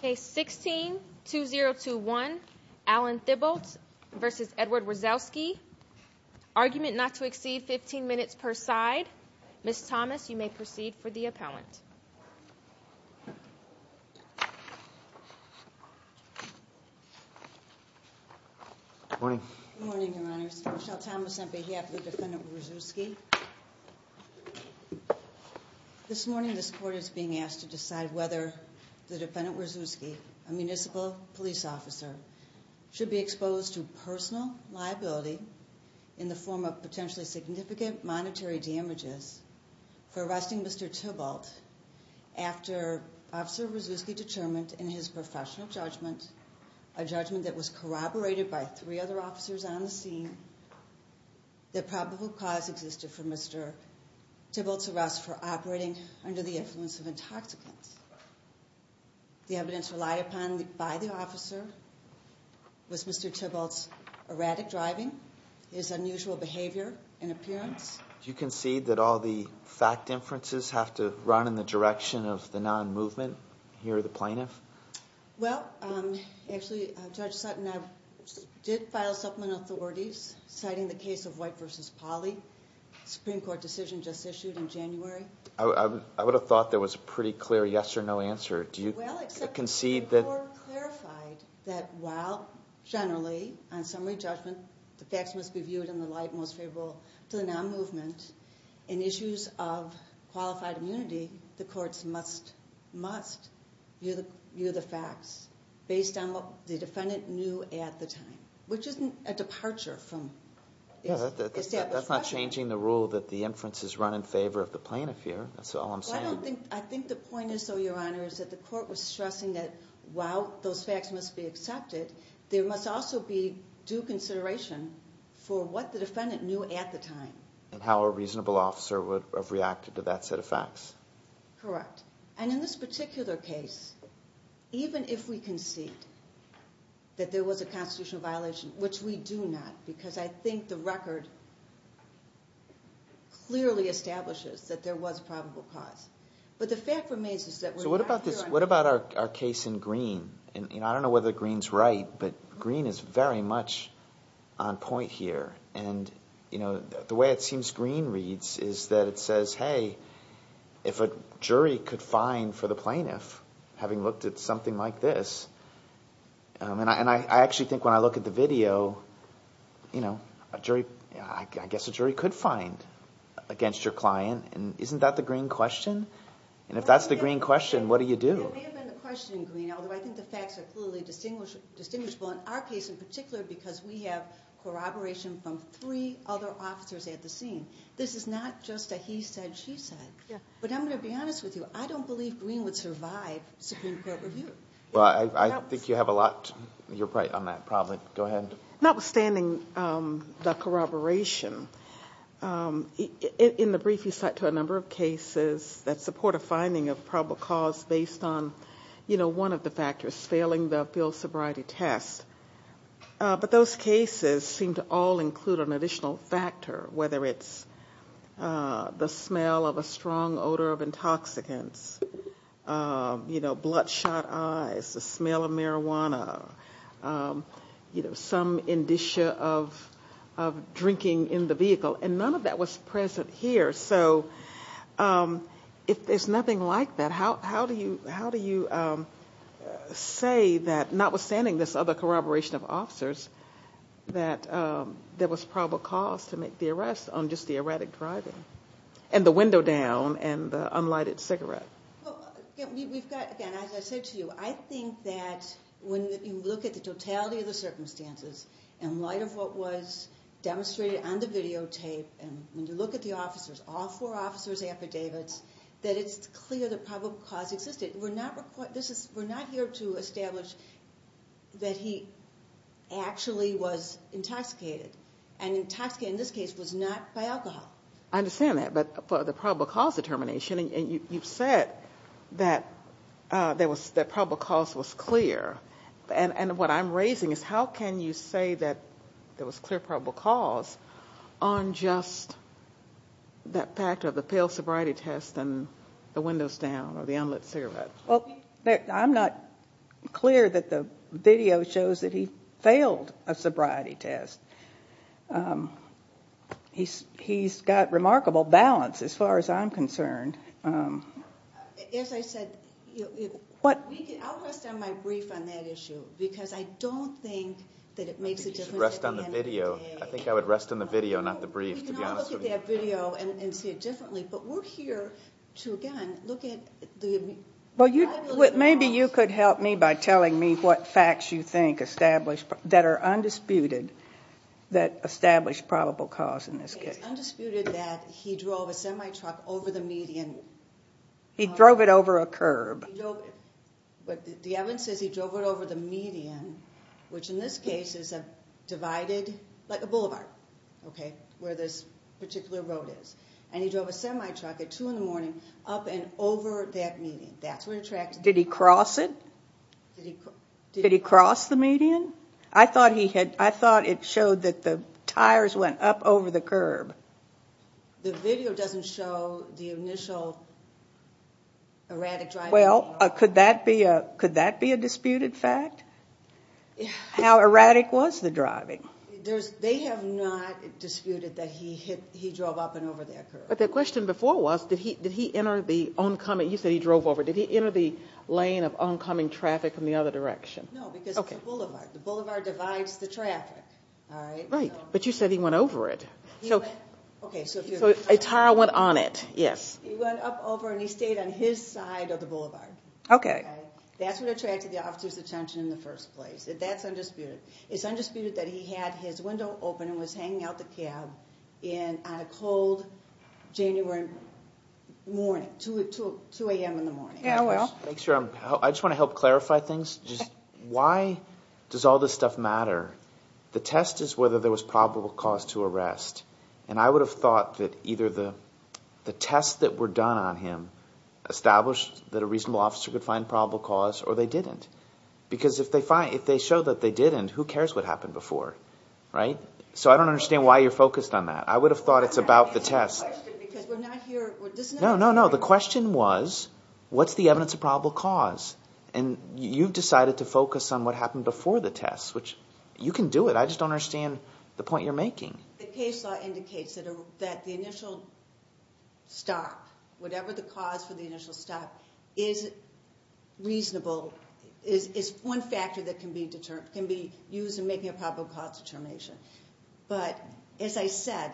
Case 16-2021 Allen Thibault v. Edward Wazowski Argument not to exceed 15 minutes per side Ms. Thomas, you may proceed for the appellant Good morning Good morning, Your Honors. Michelle Thomas on behalf of the defendant Wazowski This morning this court is being asked to decide whether the defendant Wazowski, a municipal police officer, should be exposed to personal liability in the form of potentially significant monetary damages for arresting Mr. Thibault after Officer Wazowski determined in his professional judgment, a judgment that was corroborated by three other officers on the scene, that probable cause existed for Mr. Thibault's arrest for operating under the influence of intoxicants The evidence relied upon by the officer was Mr. Thibault's erratic driving, his unusual behavior and appearance Do you concede that all the fact inferences have to run in the direction of the non-movement here at the plaintiff? Well, actually Judge Sutton did file supplement authorities citing the case of White v. Pauley, Supreme Court decision just issued in January I would have thought there was a pretty clear yes or no answer Well, except the Supreme Court clarified that while generally, on summary judgment, the facts must be viewed in the light most favorable to the non-movement, in issues of qualified immunity, the courts must view the facts based on what the defendant knew at the time Which isn't a departure from its establishment That's not changing the rule that the inferences run in favor of the plaintiff here, that's all I'm saying I think the point is, though, Your Honor, is that the court was stressing that while those facts must be accepted, there must also be due consideration for what the defendant knew at the time And how a reasonable officer would have reacted to that set of facts Correct. And in this particular case, even if we concede that there was a constitutional violation, which we do not, because I think the record clearly establishes that there was probable cause If a jury could find for the plaintiff, having looked at something like this, and I actually think when I look at the video, you know, I guess a jury could find against your client, and isn't that the green question? And if that's the green question, what do you do? It may have been the question in green, although I think the facts are clearly distinguishable in our case in particular because we have corroboration from three other officers at the scene This is not just a he said, she said, but I'm going to be honest with you, I don't believe Green would survive Supreme Court review Well, I think you have a lot, you're right on that problem, go ahead Notwithstanding the corroboration, in the brief you cite to a number of cases that support a finding of probable cause based on, you know, one of the factors, failing the field sobriety test But those cases seem to all include an additional factor, whether it's the smell of a strong odor of intoxicants, you know, bloodshot eyes, the smell of marijuana, you know, some indicia of drinking in the vehicle And the corroboration of officers that there was probable cause to make the arrest on just the erratic driving, and the window down, and the unlighted cigarette Again, as I said to you, I think that when you look at the totality of the circumstances, in light of what was demonstrated on the videotape, and when you look at the officers, all four officers' affidavits, that it's clear that probable cause existed We're not here to establish that he actually was intoxicated, and intoxicated in this case was not by alcohol I understand that, but for the probable cause determination, you've said that probable cause was clear And what I'm raising is how can you say that there was clear probable cause on just that factor of the failed sobriety test, and the windows down, or the unlit cigarette Well, I'm not clear that the video shows that he failed a sobriety test He's got remarkable balance, as far as I'm concerned As I said, I'll rest on my brief on that issue, because I don't think that it makes a difference You should rest on the video. I think I would rest on the video, not the brief, to be honest with you We can all look at that video and see it differently, but we're here to, again, look at the Maybe you could help me by telling me what facts you think that are undisputed that establish probable cause in this case It's undisputed that he drove a semi-truck over the median He drove it over a curb The evidence says he drove it over the median, which in this case is a divided, like a boulevard, where this particular road is And he drove a semi-truck at 2 in the morning up and over that median Did he cross it? Did he cross the median? I thought it showed that the tires went up over the curb The video doesn't show the initial erratic driving Well, could that be a disputed fact? How erratic was the driving? They have not disputed that he drove up and over that curb But the question before was, did he enter the oncoming, you said he drove over Did he enter the lane of oncoming traffic in the other direction? No, because it's a boulevard. The boulevard divides the traffic Right, but you said he went over it So a tire went on it, yes He went up over and he stayed on his side of the boulevard That's what attracted the officer's attention in the first place That's undisputed It's undisputed that he had his window open and was hanging out the cab on a cold January morning, 2 a.m. in the morning I just want to help clarify things Why does all this stuff matter? The test is whether there was probable cause to arrest And I would have thought that either the tests that were done on him Established that a reasonable officer could find probable cause, or they didn't Because if they showed that they didn't, who cares what happened before? So I don't understand why you're focused on that I would have thought it's about the test No, no, no, the question was, what's the evidence of probable cause? And you've decided to focus on what happened before the test, which you can do it I just don't understand the point you're making The case law indicates that the initial stop, whatever the cause for the initial stop Is reasonable, is one factor that can be used in making a probable cause determination But, as I said,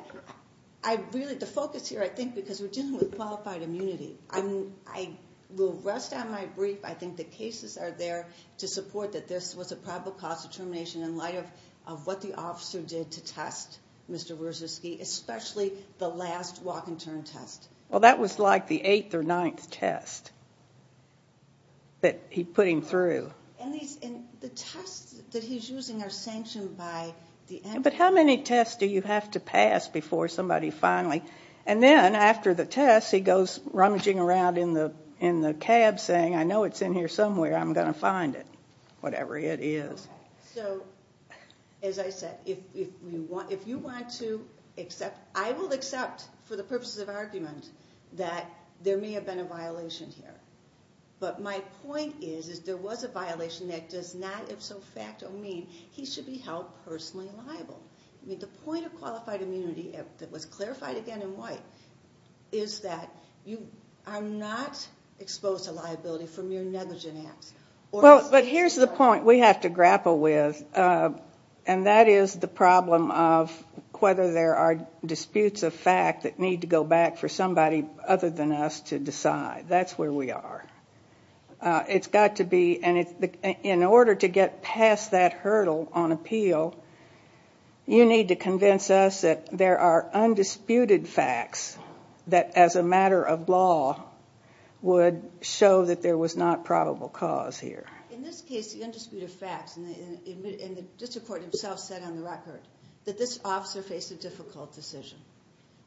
the focus here, I think, because we're dealing with qualified immunity I will rest on my brief, I think the cases are there to support that this was a probable cause determination In light of what the officer did to test Mr. Wrzeski, especially the last walk-and-turn test Well, that was like the eighth or ninth test that he put him through And the tests that he's using are sanctioned by the NRA But how many tests do you have to pass before somebody finally And then, after the test, he goes rummaging around in the cab saying, I know it's in here somewhere I'm going to find it, whatever it is So, as I said, if you want to accept, I will accept, for the purposes of argument That there may have been a violation here But my point is, is there was a violation that does not, if so facto, mean he should be held personally liable I mean, the point of qualified immunity, that was clarified again in White Is that you are not exposed to liability for mere negligent acts Well, but here's the point we have to grapple with And that is the problem of whether there are disputes of fact that need to go back for somebody other than us to decide That's where we are It's got to be, and in order to get past that hurdle on appeal You need to convince us that there are undisputed facts That, as a matter of law, would show that there was not probable cause here In this case, the undisputed facts, and the district court himself said on the record That this officer faced a difficult decision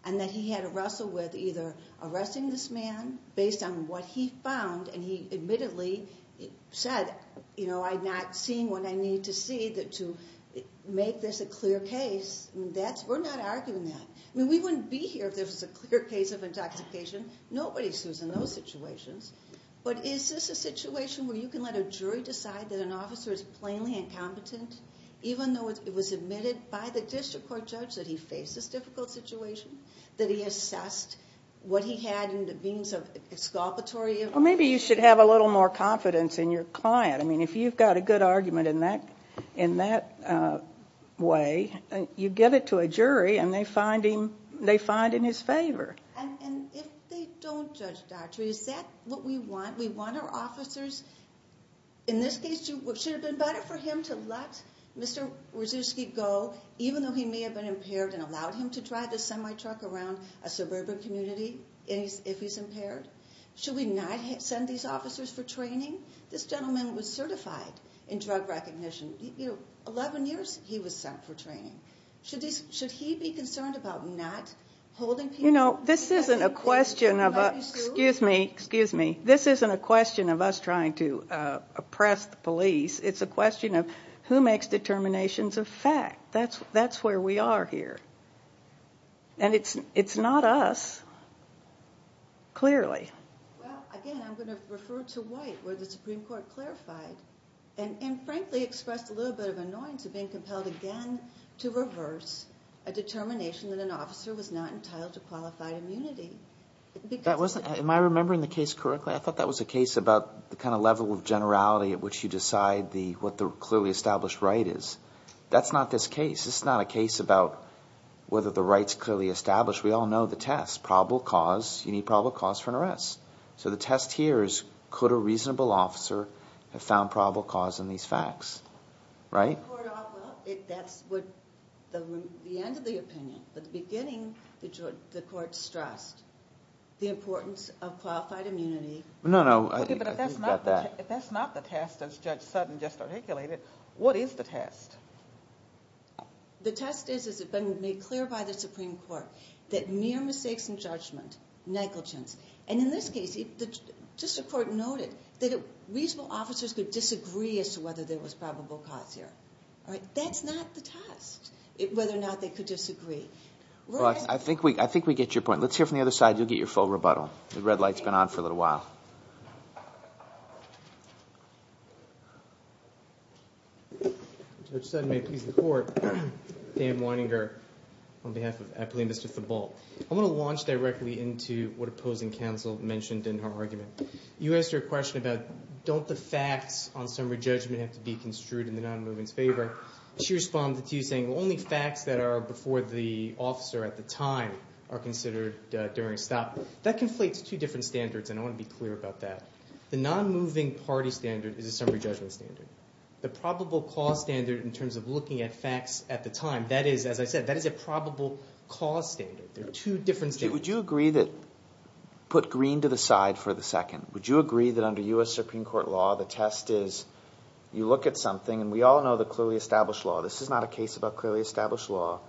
And that he had to wrestle with either arresting this man based on what he found And he admittedly said, you know, I'm not seeing what I need to see to make this a clear case We're not arguing that I mean, we wouldn't be here if there was a clear case of intoxication Nobody sues in those situations But is this a situation where you can let a jury decide that an officer is plainly incompetent Even though it was admitted by the district court judge that he faced this difficult situation That he assessed what he had in the means of exculpatory Well, maybe you should have a little more confidence in your client I mean, if you've got a good argument in that way You give it to a jury, and they find in his favor And if they don't judge doctor, is that what we want? We want our officers In this case, should it have been better for him to let Mr. Wojcicki go Even though he may have been impaired And allowed him to drive a semi-truck around a suburban community if he's impaired Should we not send these officers for training? This gentleman was certified in drug recognition Eleven years, he was sent for training Should he be concerned about not holding people You know, this isn't a question of us trying to oppress the police It's a question of who makes determinations of fact That's where we are here And it's not us, clearly Well, again, I'm going to refer to White, where the Supreme Court clarified And frankly expressed a little bit of annoyance of being compelled again To reverse a determination that an officer was not entitled to qualified immunity Am I remembering the case correctly? I thought that was a case about the kind of level of generality At which you decide what the clearly established right is That's not this case This is not a case about whether the right is clearly established We all know the test, probable cause You need probable cause for an arrest So the test here is, could a reasonable officer have found probable cause in these facts? Well, that's the end of the opinion But at the beginning, the court stressed the importance of qualified immunity No, no, I think we've got that But if that's not the test, as Judge Sutton just articulated What is the test? The test is, as it's been made clear by the Supreme Court That mere mistakes in judgment, negligence And in this case, the District Court noted That reasonable officers could disagree as to whether there was probable cause here That's not the test, whether or not they could disagree I think we get your point Let's hear from the other side, you'll get your full rebuttal The red light's been on for a little while Judge Sutton, may it please the Court Dan Weininger, on behalf of Eppley and Mr. Thibault I want to launch directly into what opposing counsel mentioned in her argument You asked her a question about Don't the facts on summary judgment have to be construed in the nonmoving's favor? She responded to you saying Only facts that are before the officer at the time are considered during a stop That conflates two different standards, and I want to be clear about that The nonmoving party standard is a summary judgment standard The probable cause standard, in terms of looking at facts at the time That is, as I said, that is a probable cause standard They're two different standards Would you agree that Put green to the side for the second Would you agree that under U.S. Supreme Court law, the test is You look at something, and we all know the clearly established law This is not a case about clearly established law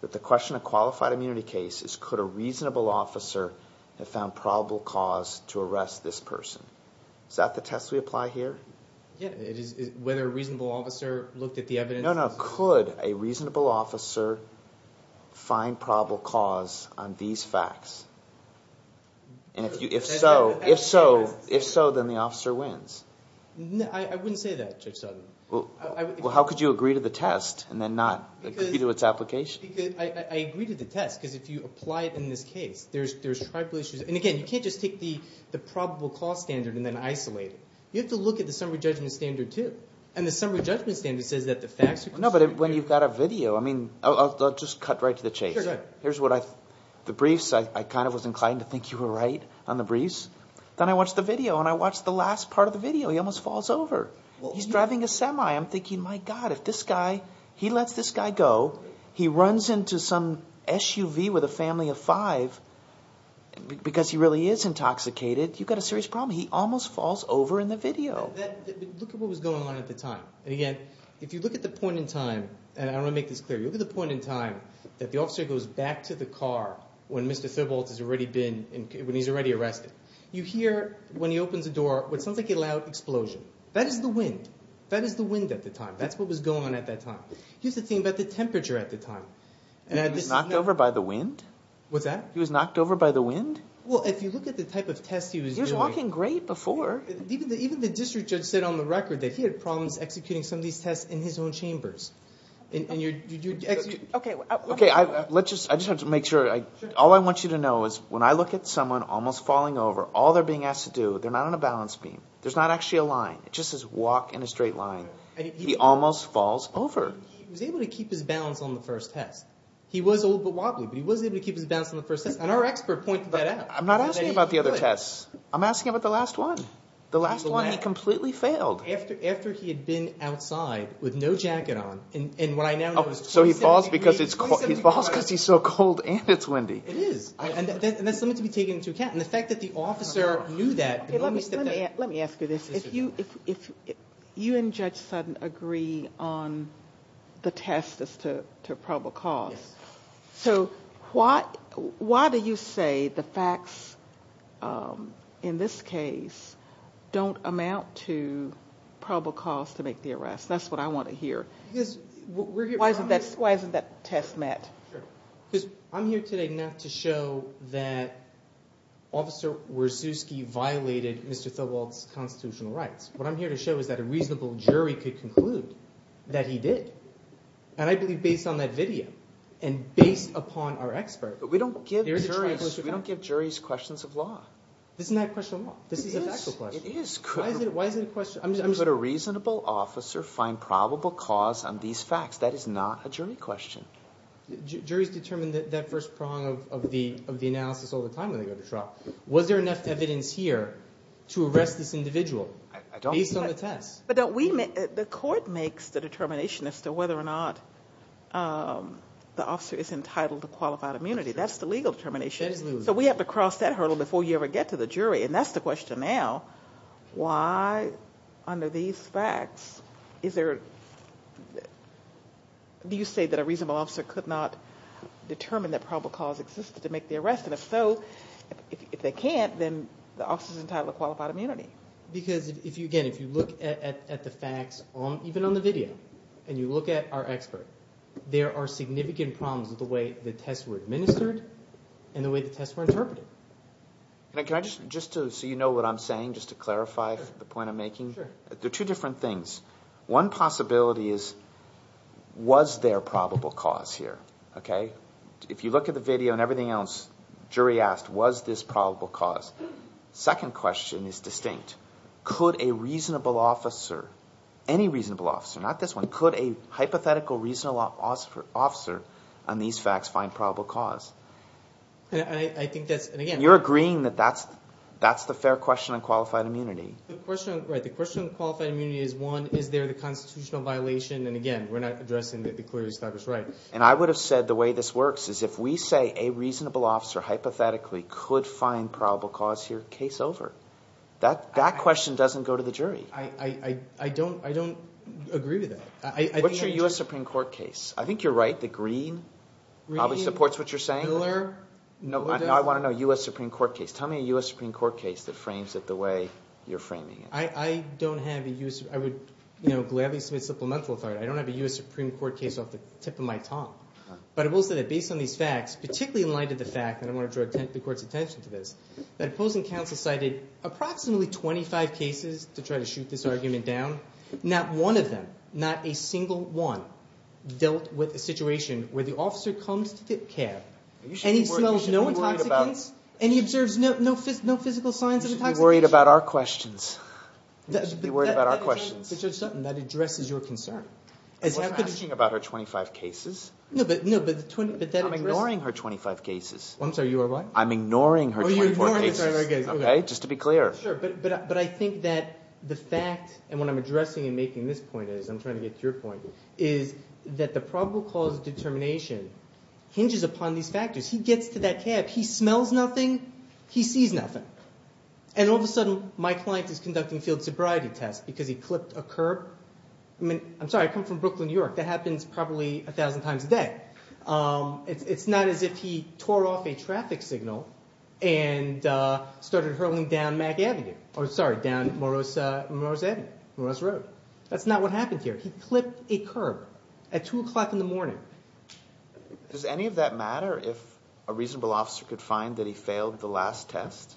But the question of qualified immunity cases Could a reasonable officer have found probable cause to arrest this person? Is that the test we apply here? Yeah, whether a reasonable officer looked at the evidence No, no, could a reasonable officer find probable cause on these facts? And if so, then the officer wins I wouldn't say that, Judge Sutton Well, how could you agree to the test and then not agree to its application? I agree to the test, because if you apply it in this case There's triple issues And again, you can't just take the probable cause standard and then isolate it You have to look at the summary judgment standard, too No, but when you've got a video I mean, I'll just cut right to the chase Sure, go ahead Here's what I The briefs, I kind of was inclined to think you were right on the briefs Then I watched the video, and I watched the last part of the video He almost falls over He's driving a semi I'm thinking, my God, if this guy He lets this guy go He runs into some SUV with a family of five Because he really is intoxicated You've got a serious problem He almost falls over in the video Look at what was going on at the time And again, if you look at the point in time And I want to make this clear You look at the point in time that the officer goes back to the car When Mr. Thibault has already been When he's already arrested You hear, when he opens the door, what sounds like a loud explosion That is the wind That is the wind at the time That's what was going on at that time Here's the thing about the temperature at the time He was knocked over by the wind? What's that? He was knocked over by the wind? Well, if you look at the type of test he was doing He was walking great before Even the district judge said on the record That he had problems executing some of these tests in his own chambers Okay, I just have to make sure All I want you to know is When I look at someone almost falling over All they're being asked to do They're not on a balance beam There's not actually a line It just says walk in a straight line He almost falls over He was able to keep his balance on the first test He was a little bit wobbly But he was able to keep his balance on the first test And our expert pointed that out I'm not asking about the other tests I'm asking about the last one The last one he completely failed After he had been outside With no jacket on So he falls because it's cold He falls because he's so cold and it's windy It is, and that's something to be taken into account And the fact that the officer knew that Let me ask you this If you and Judge Sutton agree on The test as to probable cause So why do you say the facts In this case don't amount to Probable cause to make the arrest That's what I want to hear Why isn't that test met? Because I'm here today not to show that Officer Wierczewski violated Mr. Thibault's constitutional rights What I'm here to show is that A reasonable jury could conclude That he did And I believe based on that video And based upon our expert But we don't give We don't give juries questions of law Isn't that a question of law? This is a factual question It is Why is it a question? Could a reasonable officer find Probable cause on these facts? That is not a jury question Juries determine that first prong Of the analysis all the time when they go to trial Was there enough evidence here To arrest this individual? Based on the test But don't we make The court makes the determination As to whether or not The officer is entitled to qualified immunity That's the legal determination Absolutely So we have to cross that hurdle Before you ever get to the jury And that's the question now Why under these facts Is there Do you say that a reasonable officer Could not determine that probable cause Existed to make the arrest And if so If they can't Then the officer is entitled to qualified immunity Because if you Again if you look at the facts Even on the video And you look at our expert There are significant problems With the way the tests were administered And the way the tests were interpreted Can I just Just so you know what I'm saying Just to clarify the point I'm making Sure There are two different things One possibility is Was there probable cause here? Okay If you look at the video And everything else Jury asked Was this probable cause? Second question is distinct Could a reasonable officer Any reasonable officer Not this one Could a hypothetical reasonable officer On these facts Find probable cause? And I think that's And again You're agreeing that that's That's the fair question On qualified immunity The question Right the question on qualified immunity Is one Is there the constitutional violation And again We're not addressing That the query is not just right And I would have said The way this works Is if we say A reasonable officer hypothetically Could find probable cause here Case over That question doesn't go to the jury I don't agree with that What's your US Supreme Court case? I think you're right The green Probably supports what you're saying Miller No I want to know US Supreme Court case Tell me a US Supreme Court case That frames it the way You're framing it I don't have a US I would You know Gladly submit supplemental I don't have a US Supreme Court case Off the tip of my tongue But I will say that Based on these facts Particularly in light of the fact That I want to draw The court's attention to this That opposing counsel cited Approximately 25 cases To try to shoot this argument down Not one of them Not a single one Dealt with a situation Where the officer comes to tip cap And he smells no intoxicants And he observes No physical signs of intoxication You should be worried About our questions You should be worried About our questions But Judge Sutton That addresses your concern I'm asking about her 25 cases No but I'm ignoring her 25 cases I'm sorry you are what? I'm ignoring her 25 cases Oh you're ignoring The 25 cases Okay just to be clear Sure but I think that The fact And what I'm addressing And making this point is I'm trying to get to your point Is that the probable cause Of determination Hinges upon these factors He gets to that cap He smells nothing He sees nothing And all of a sudden My client is conducting A field sobriety test Because he clipped a curb I mean I'm sorry I come from Brooklyn, New York That happens probably A thousand times a day It's not as if he Tore off a traffic signal And started hurling Down Mack Avenue Oh sorry Down Morose Avenue Morose Road That's not what happened here He clipped a curb At two o'clock in the morning Does any of that matter If a reasonable officer Could find that he Failed the last test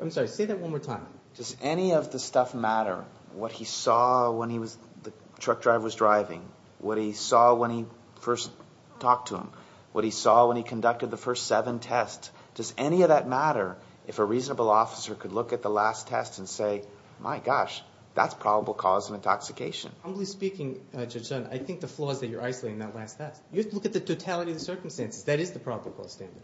I'm sorry Say that one more time Does any of the stuff matter What he saw when he was The truck driver was driving What he saw when he First talked to him What he saw when he Conducted the first seven tests Does any of that matter If a reasonable officer Could look at the last test And say my gosh That's probable cause Of intoxication Humbly speaking Judge Dunn I think the flaws That you're isolating That last test You have to look at The totality of the circumstances That is the probable cause standard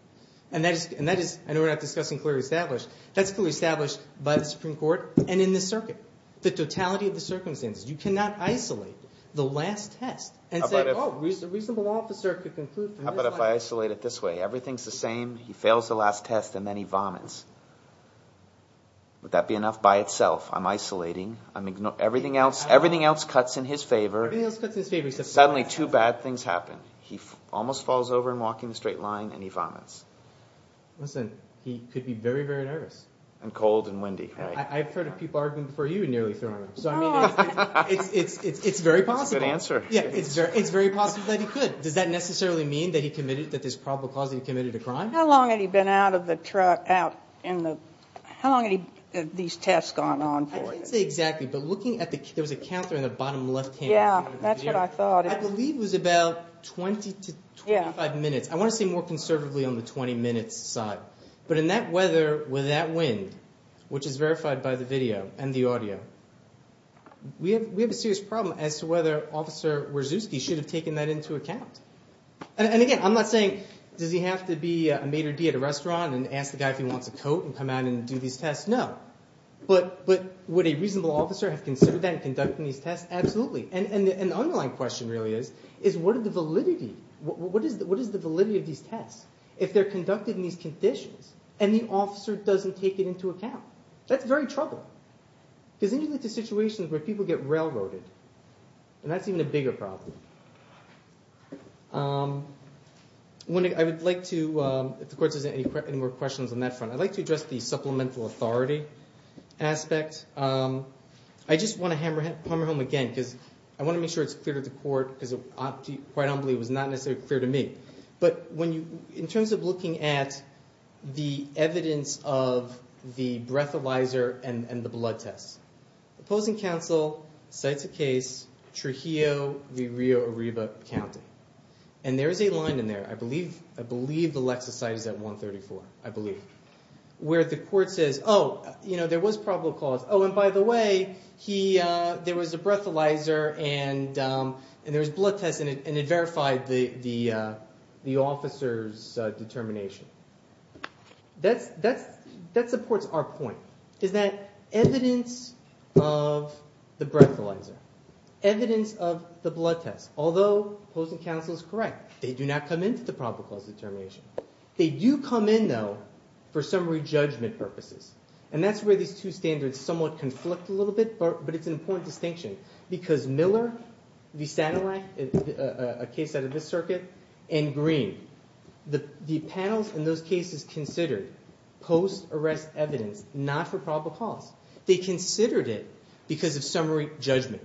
And that is I know we're not discussing Clearly established That's clearly established By the Supreme Court And in this circuit The totality of the circumstances You cannot isolate The last test And say oh A reasonable officer Could conclude from this How about if I Isolate it this way Everything's the same He fails the last test And then he vomits Would that be enough By itself I'm isolating I'm ignoring Everything else Everything else Cuts in his favor Everything else Cuts in his favor Except for this Suddenly two bad things happen He almost falls over And walks in a straight line And he vomits Listen He could be very very nervous And cold and windy I've heard people Arguing for you And nearly throwing up So I mean It's very possible It's a good answer It's very possible That he could Does that necessarily mean That he committed That there's probable cause That he committed a crime How long had he been Out of the truck Out in the How long had he These tests gone on for I can't say exactly But looking at the There was a counter In the bottom left hand Yeah That's what I thought I believe it was about 20 to 25 minutes I want to say More conservatively On the 20 minute side But in that weather With that wind Which is verified By the video And the audio We have a serious problem As to whether Officer Wierzewski Should have taken that Into account And again I'm not saying Does he have to be A maitre d' At a restaurant And ask the guy If he wants a coat And come out And do these tests No But would a reasonable Officer have considered That and conducted These tests Absolutely And the underlying Question really is What is the validity Of these tests If they're conducted In these conditions And the officer Doesn't take it Into account That's very trouble Because then you get To situations Where people get Railroaded And that's even A bigger problem I would like to If the court Has any more questions On that front I'd like to address The supplemental authority Aspect I just want to Hammer home again Because I want to make sure It's clear to the court Because I don't believe It was not necessarily Clear to me But when you In terms of looking at The evidence of The breathalyzer And the blood test Opposing counsel Cites a case Trujillo V. Rio Arriba County And there is a line In there I believe I believe The Lexa site The Lexa site Is at 134 I believe Where the court says Oh you know There was probable cause Oh and by the way He There was a breathalyzer And And there was blood test And it verified The The The officer's Determination That's That's That supports our point Is that Evidence Of The breathalyzer Evidence of The blood test Although Opposing counsel Is correct They do not come Into the probable cause Determination They do come in though For summary Judgment purposes And that's where These two standards Somewhat conflict A little bit But it's an important Distinction Because Miller V. Satellite A case Out of this circuit And Green The The panels In those cases Considered Post arrest Evidence Not for probable cause They considered it Because of summary Judgment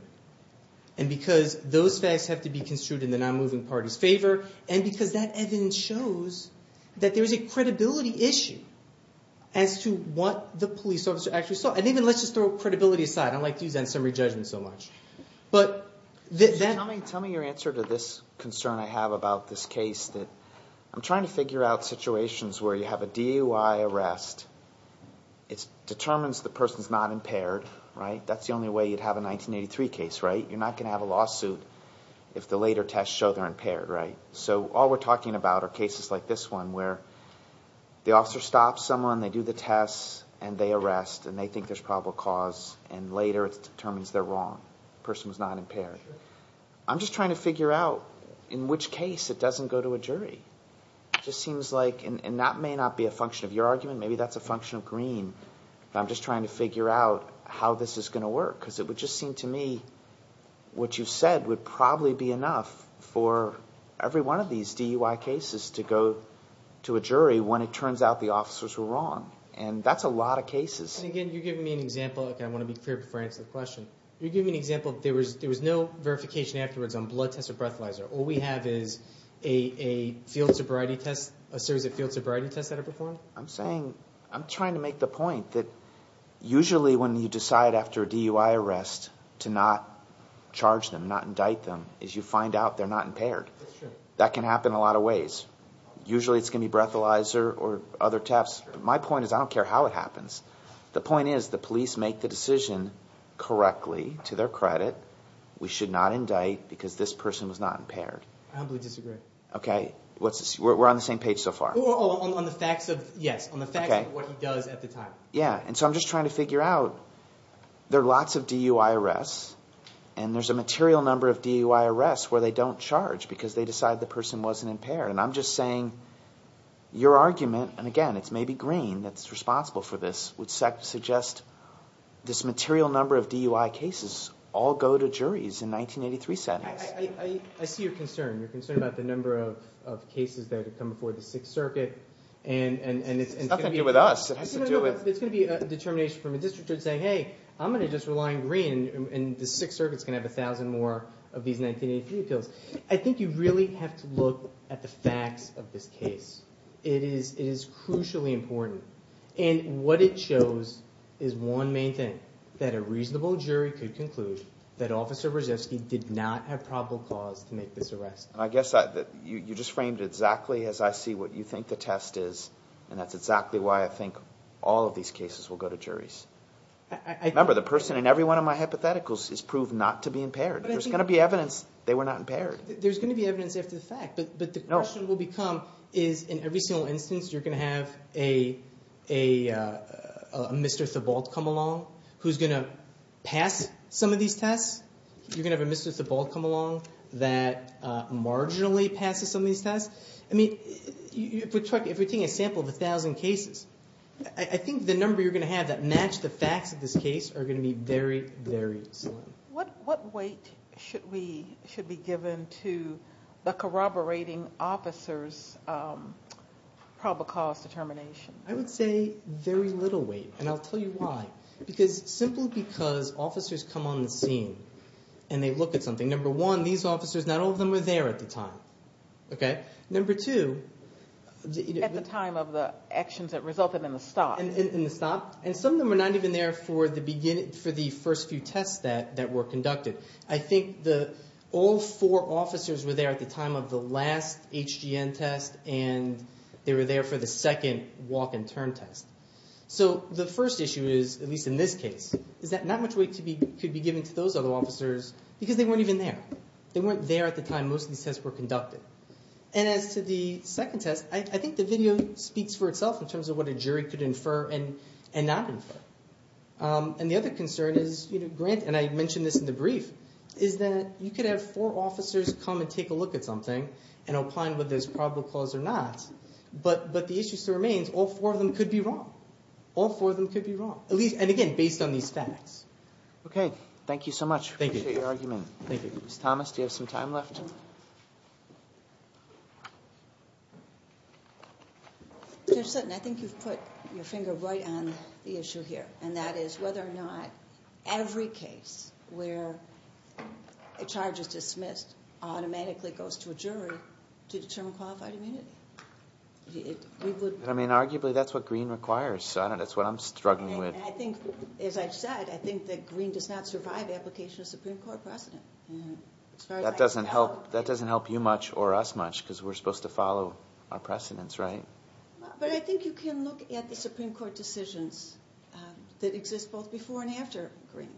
And because Those facts Have to be construed In the non-moving Party's favor And because That evidence Shows That there's a Credibility issue As to what The police officer Actually saw And even Let's just throw Credibility aside I like to use that In summary judgment So much But Then Tell me Your answer To this Concern I have About this case That I'm trying to Figure out Situations where You have a DUI Arrest It Determines The person's not impaired Right That's the only way You'd have a 1983 case Right You're not going to have a lawsuit If the later tests Show they're impaired Right So all we're talking about Are cases like this one Where The officer stops someone They do the test And they arrest And they think There's probable cause And later It determines They're wrong The person was not impaired I'm just trying to figure out In which case It doesn't go to a jury It just seems like And that may not be A function of your argument Maybe that's a function of green I'm just trying to figure out How this is going to work Because it would just seem to me What you said Would probably be enough For Every one of these DUI cases To go To a jury When it turns out The officers were wrong And that's a lot of cases And again You're giving me an example Okay I want to be clear Before I answer the question You're giving me an example There was There was no Verification afterwards On blood tests Or breathalyzer All we have is A A field sobriety test A series of field sobriety tests That are performed I'm saying I'm trying to make the point That Usually when you decide After a DUI arrest To not Charge them Not indict them Is you find out They're not impaired That's true That can happen a lot of ways Usually it's going to be Breathalyzer Or other tests But my point is I don't care how it happens The point is The police make the decision Correctly To their credit We should not indict Because this person Was not impaired I humbly disagree Okay What's this We're on the same page so far On the facts of Yes Okay On the facts of what he does At the time Yeah And so I'm just trying to figure out There are lots of DUI arrests And there's a material number Of DUI arrests Where they don't charge Because they decide The person wasn't impaired And I'm just saying Your argument And again It's maybe Green That's responsible for this Would suggest This material number of DUI cases All go to juries In 1983 sentences I I I I see your concern You're concerned about The number of Of cases that have come Before the Sixth Circuit And And And And It's Nothing to do with us It has to do with It's going to be A determination from A district judge Saying hey I'm going to just rely on Green And the Sixth Circuit Is going to have A thousand more Of these 1983 appeals I think you really Have to look At the facts Of this case It is It is crucially important And what it shows Is one main thing That a reasonable jury Could conclude That Officer Brzezinski Did not have probable cause To make this arrest And I guess You just framed it Exactly as I see What you think The test is And that's exactly Why I think All of these cases Will go to juries Remember the person In every one Of my hypotheticals Is proved not to be impaired There's going to be evidence They were not impaired There's going to be evidence After the fact But the question will become Is in every single instance You're going to have A A A A Mr. Thibault Come along Who's going to Pass some of these tests You're going to have A Mr. Thibault Come along That Marginally passes Some of these tests I mean If we're taking A sample Of a thousand cases I think the number You're going to have That match the facts Of this case Are going to be Very very slim What weight Should we Should be given To The corroborating Officers Probable cause Determination I would say Very little weight And I'll tell you why Because Simply because Officers come on the scene And they look at something Number one These officers Not all of them Were there at the time Okay Number two At the time of the Actions that resulted In the stop In the stop And some of them Were not even there For the beginning For the first few tests That were conducted I think All four officers Were there at the time Of the last HGN test And They were there For the second Walk and turn test So the first issue is At least in this case Is that Not much weight Could be given To those other officers Because they weren't even there They weren't there at the time Most of these tests Were conducted And as to the Second test I think the video Speaks for itself In terms of what a jury Could infer And not infer And the other concern Is Grant And I mentioned this In the brief Is that You could have Four officers Come and take a look At something And opine Whether there's probable cause Or not But the issue still remains All four of them Could be wrong All four of them Could be wrong At least And again Based on these facts Okay Thank you so much Thank you Appreciate your argument Thank you Ms. Thomas Do you have some time left? Judge Sutton I think you've put Your finger Right on The issue here And that is Whether or not Every case Where A charge is dismissed Automatically goes To a jury To determine Qualified immunity We would I mean Arguably That's what Green requires So I don't That's what I'm Struggling with And I think As I've said I think that Green does not Survive application Of Supreme Court Precedent That doesn't help That doesn't help You much Or us much Because we're Supposed to follow Our precedence Right? But I think You can look At the Supreme Court Decisions That exist Both before And after Green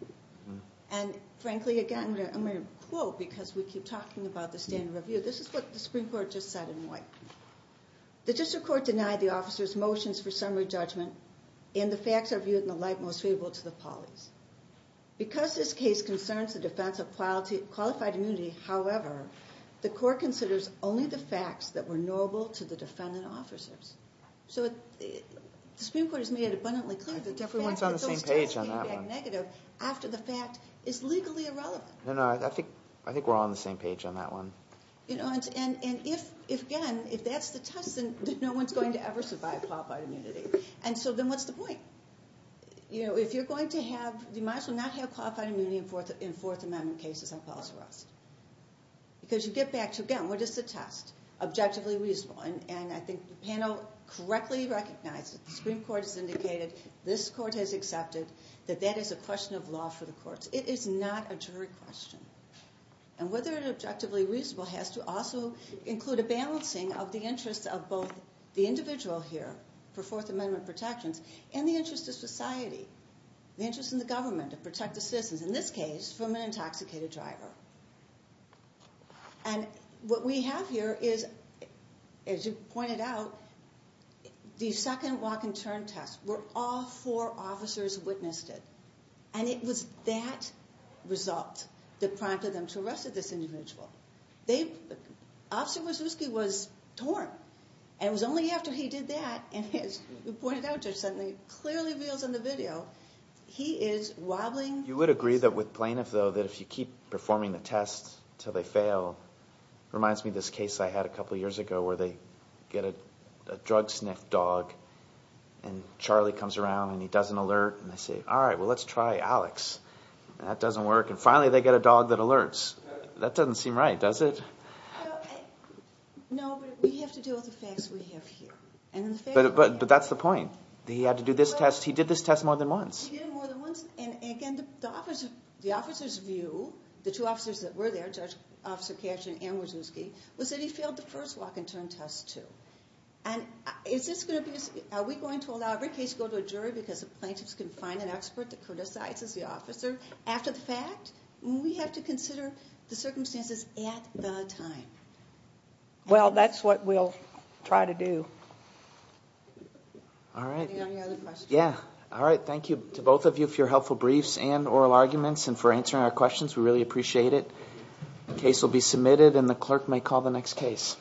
And frankly Again I'm going to Quote Because we keep Talking about The standard review This is what The Supreme Court Just said in white The district court Denied the officers Motions for summary Judgment And the facts Are viewed In the light Most favorable To the polis Because this case Concerns the defense Of quality Qualified immunity However The court considers Only the facts That were knowable To the defendant Officers So We recognize That the Supreme Court Has indicated This court has accepted That that is a question Of law for the courts It is not A jury question And whether it Objectively reasonable Has to also Include a balancing Of the interest Of both The individual here For fourth amendment Protections And the interest Of society The interest In the government To protect the citizens In this case From an intoxicated Driver And what we Have here Is As you pointed out The second Walk and turn test Were all Four officers Witnessed it And it was That Result That prompted Them to arrest This individual They Officer Wazowski Was torn And it was only After he did that And as you pointed out Judge Sutton Clearly reveals In the video He is Wobbling You would agree That with plaintiff Though that if you Keep performing The test Until they fail Reminds me of this case I had a couple years ago Where they Get a Drug sniff Dog And Charlie Comes around And he does an alert And they say All right Let's try Alex That doesn't work And finally they get a dog That alerts That doesn't seem right Does it? No But we have to deal With the facts We have here But that's the point He had to do this test He did this test More than once He did it more than once And again The officers The judge's view The two officers That were there Judge Officer Was that he failed The first walk And turn test too And is this Are we going to Allow every case To go to a jury Because the plaintiffs Can find an expert That criticizes the officer After the fact We have to consider The circumstances At the time Well that's what We'll try to do All right Any other questions? Yeah All right Thank you To both of you For your helpful briefs And oral arguments And for answering Our questions We really appreciate it The case will be submitted And the clerk May call the next case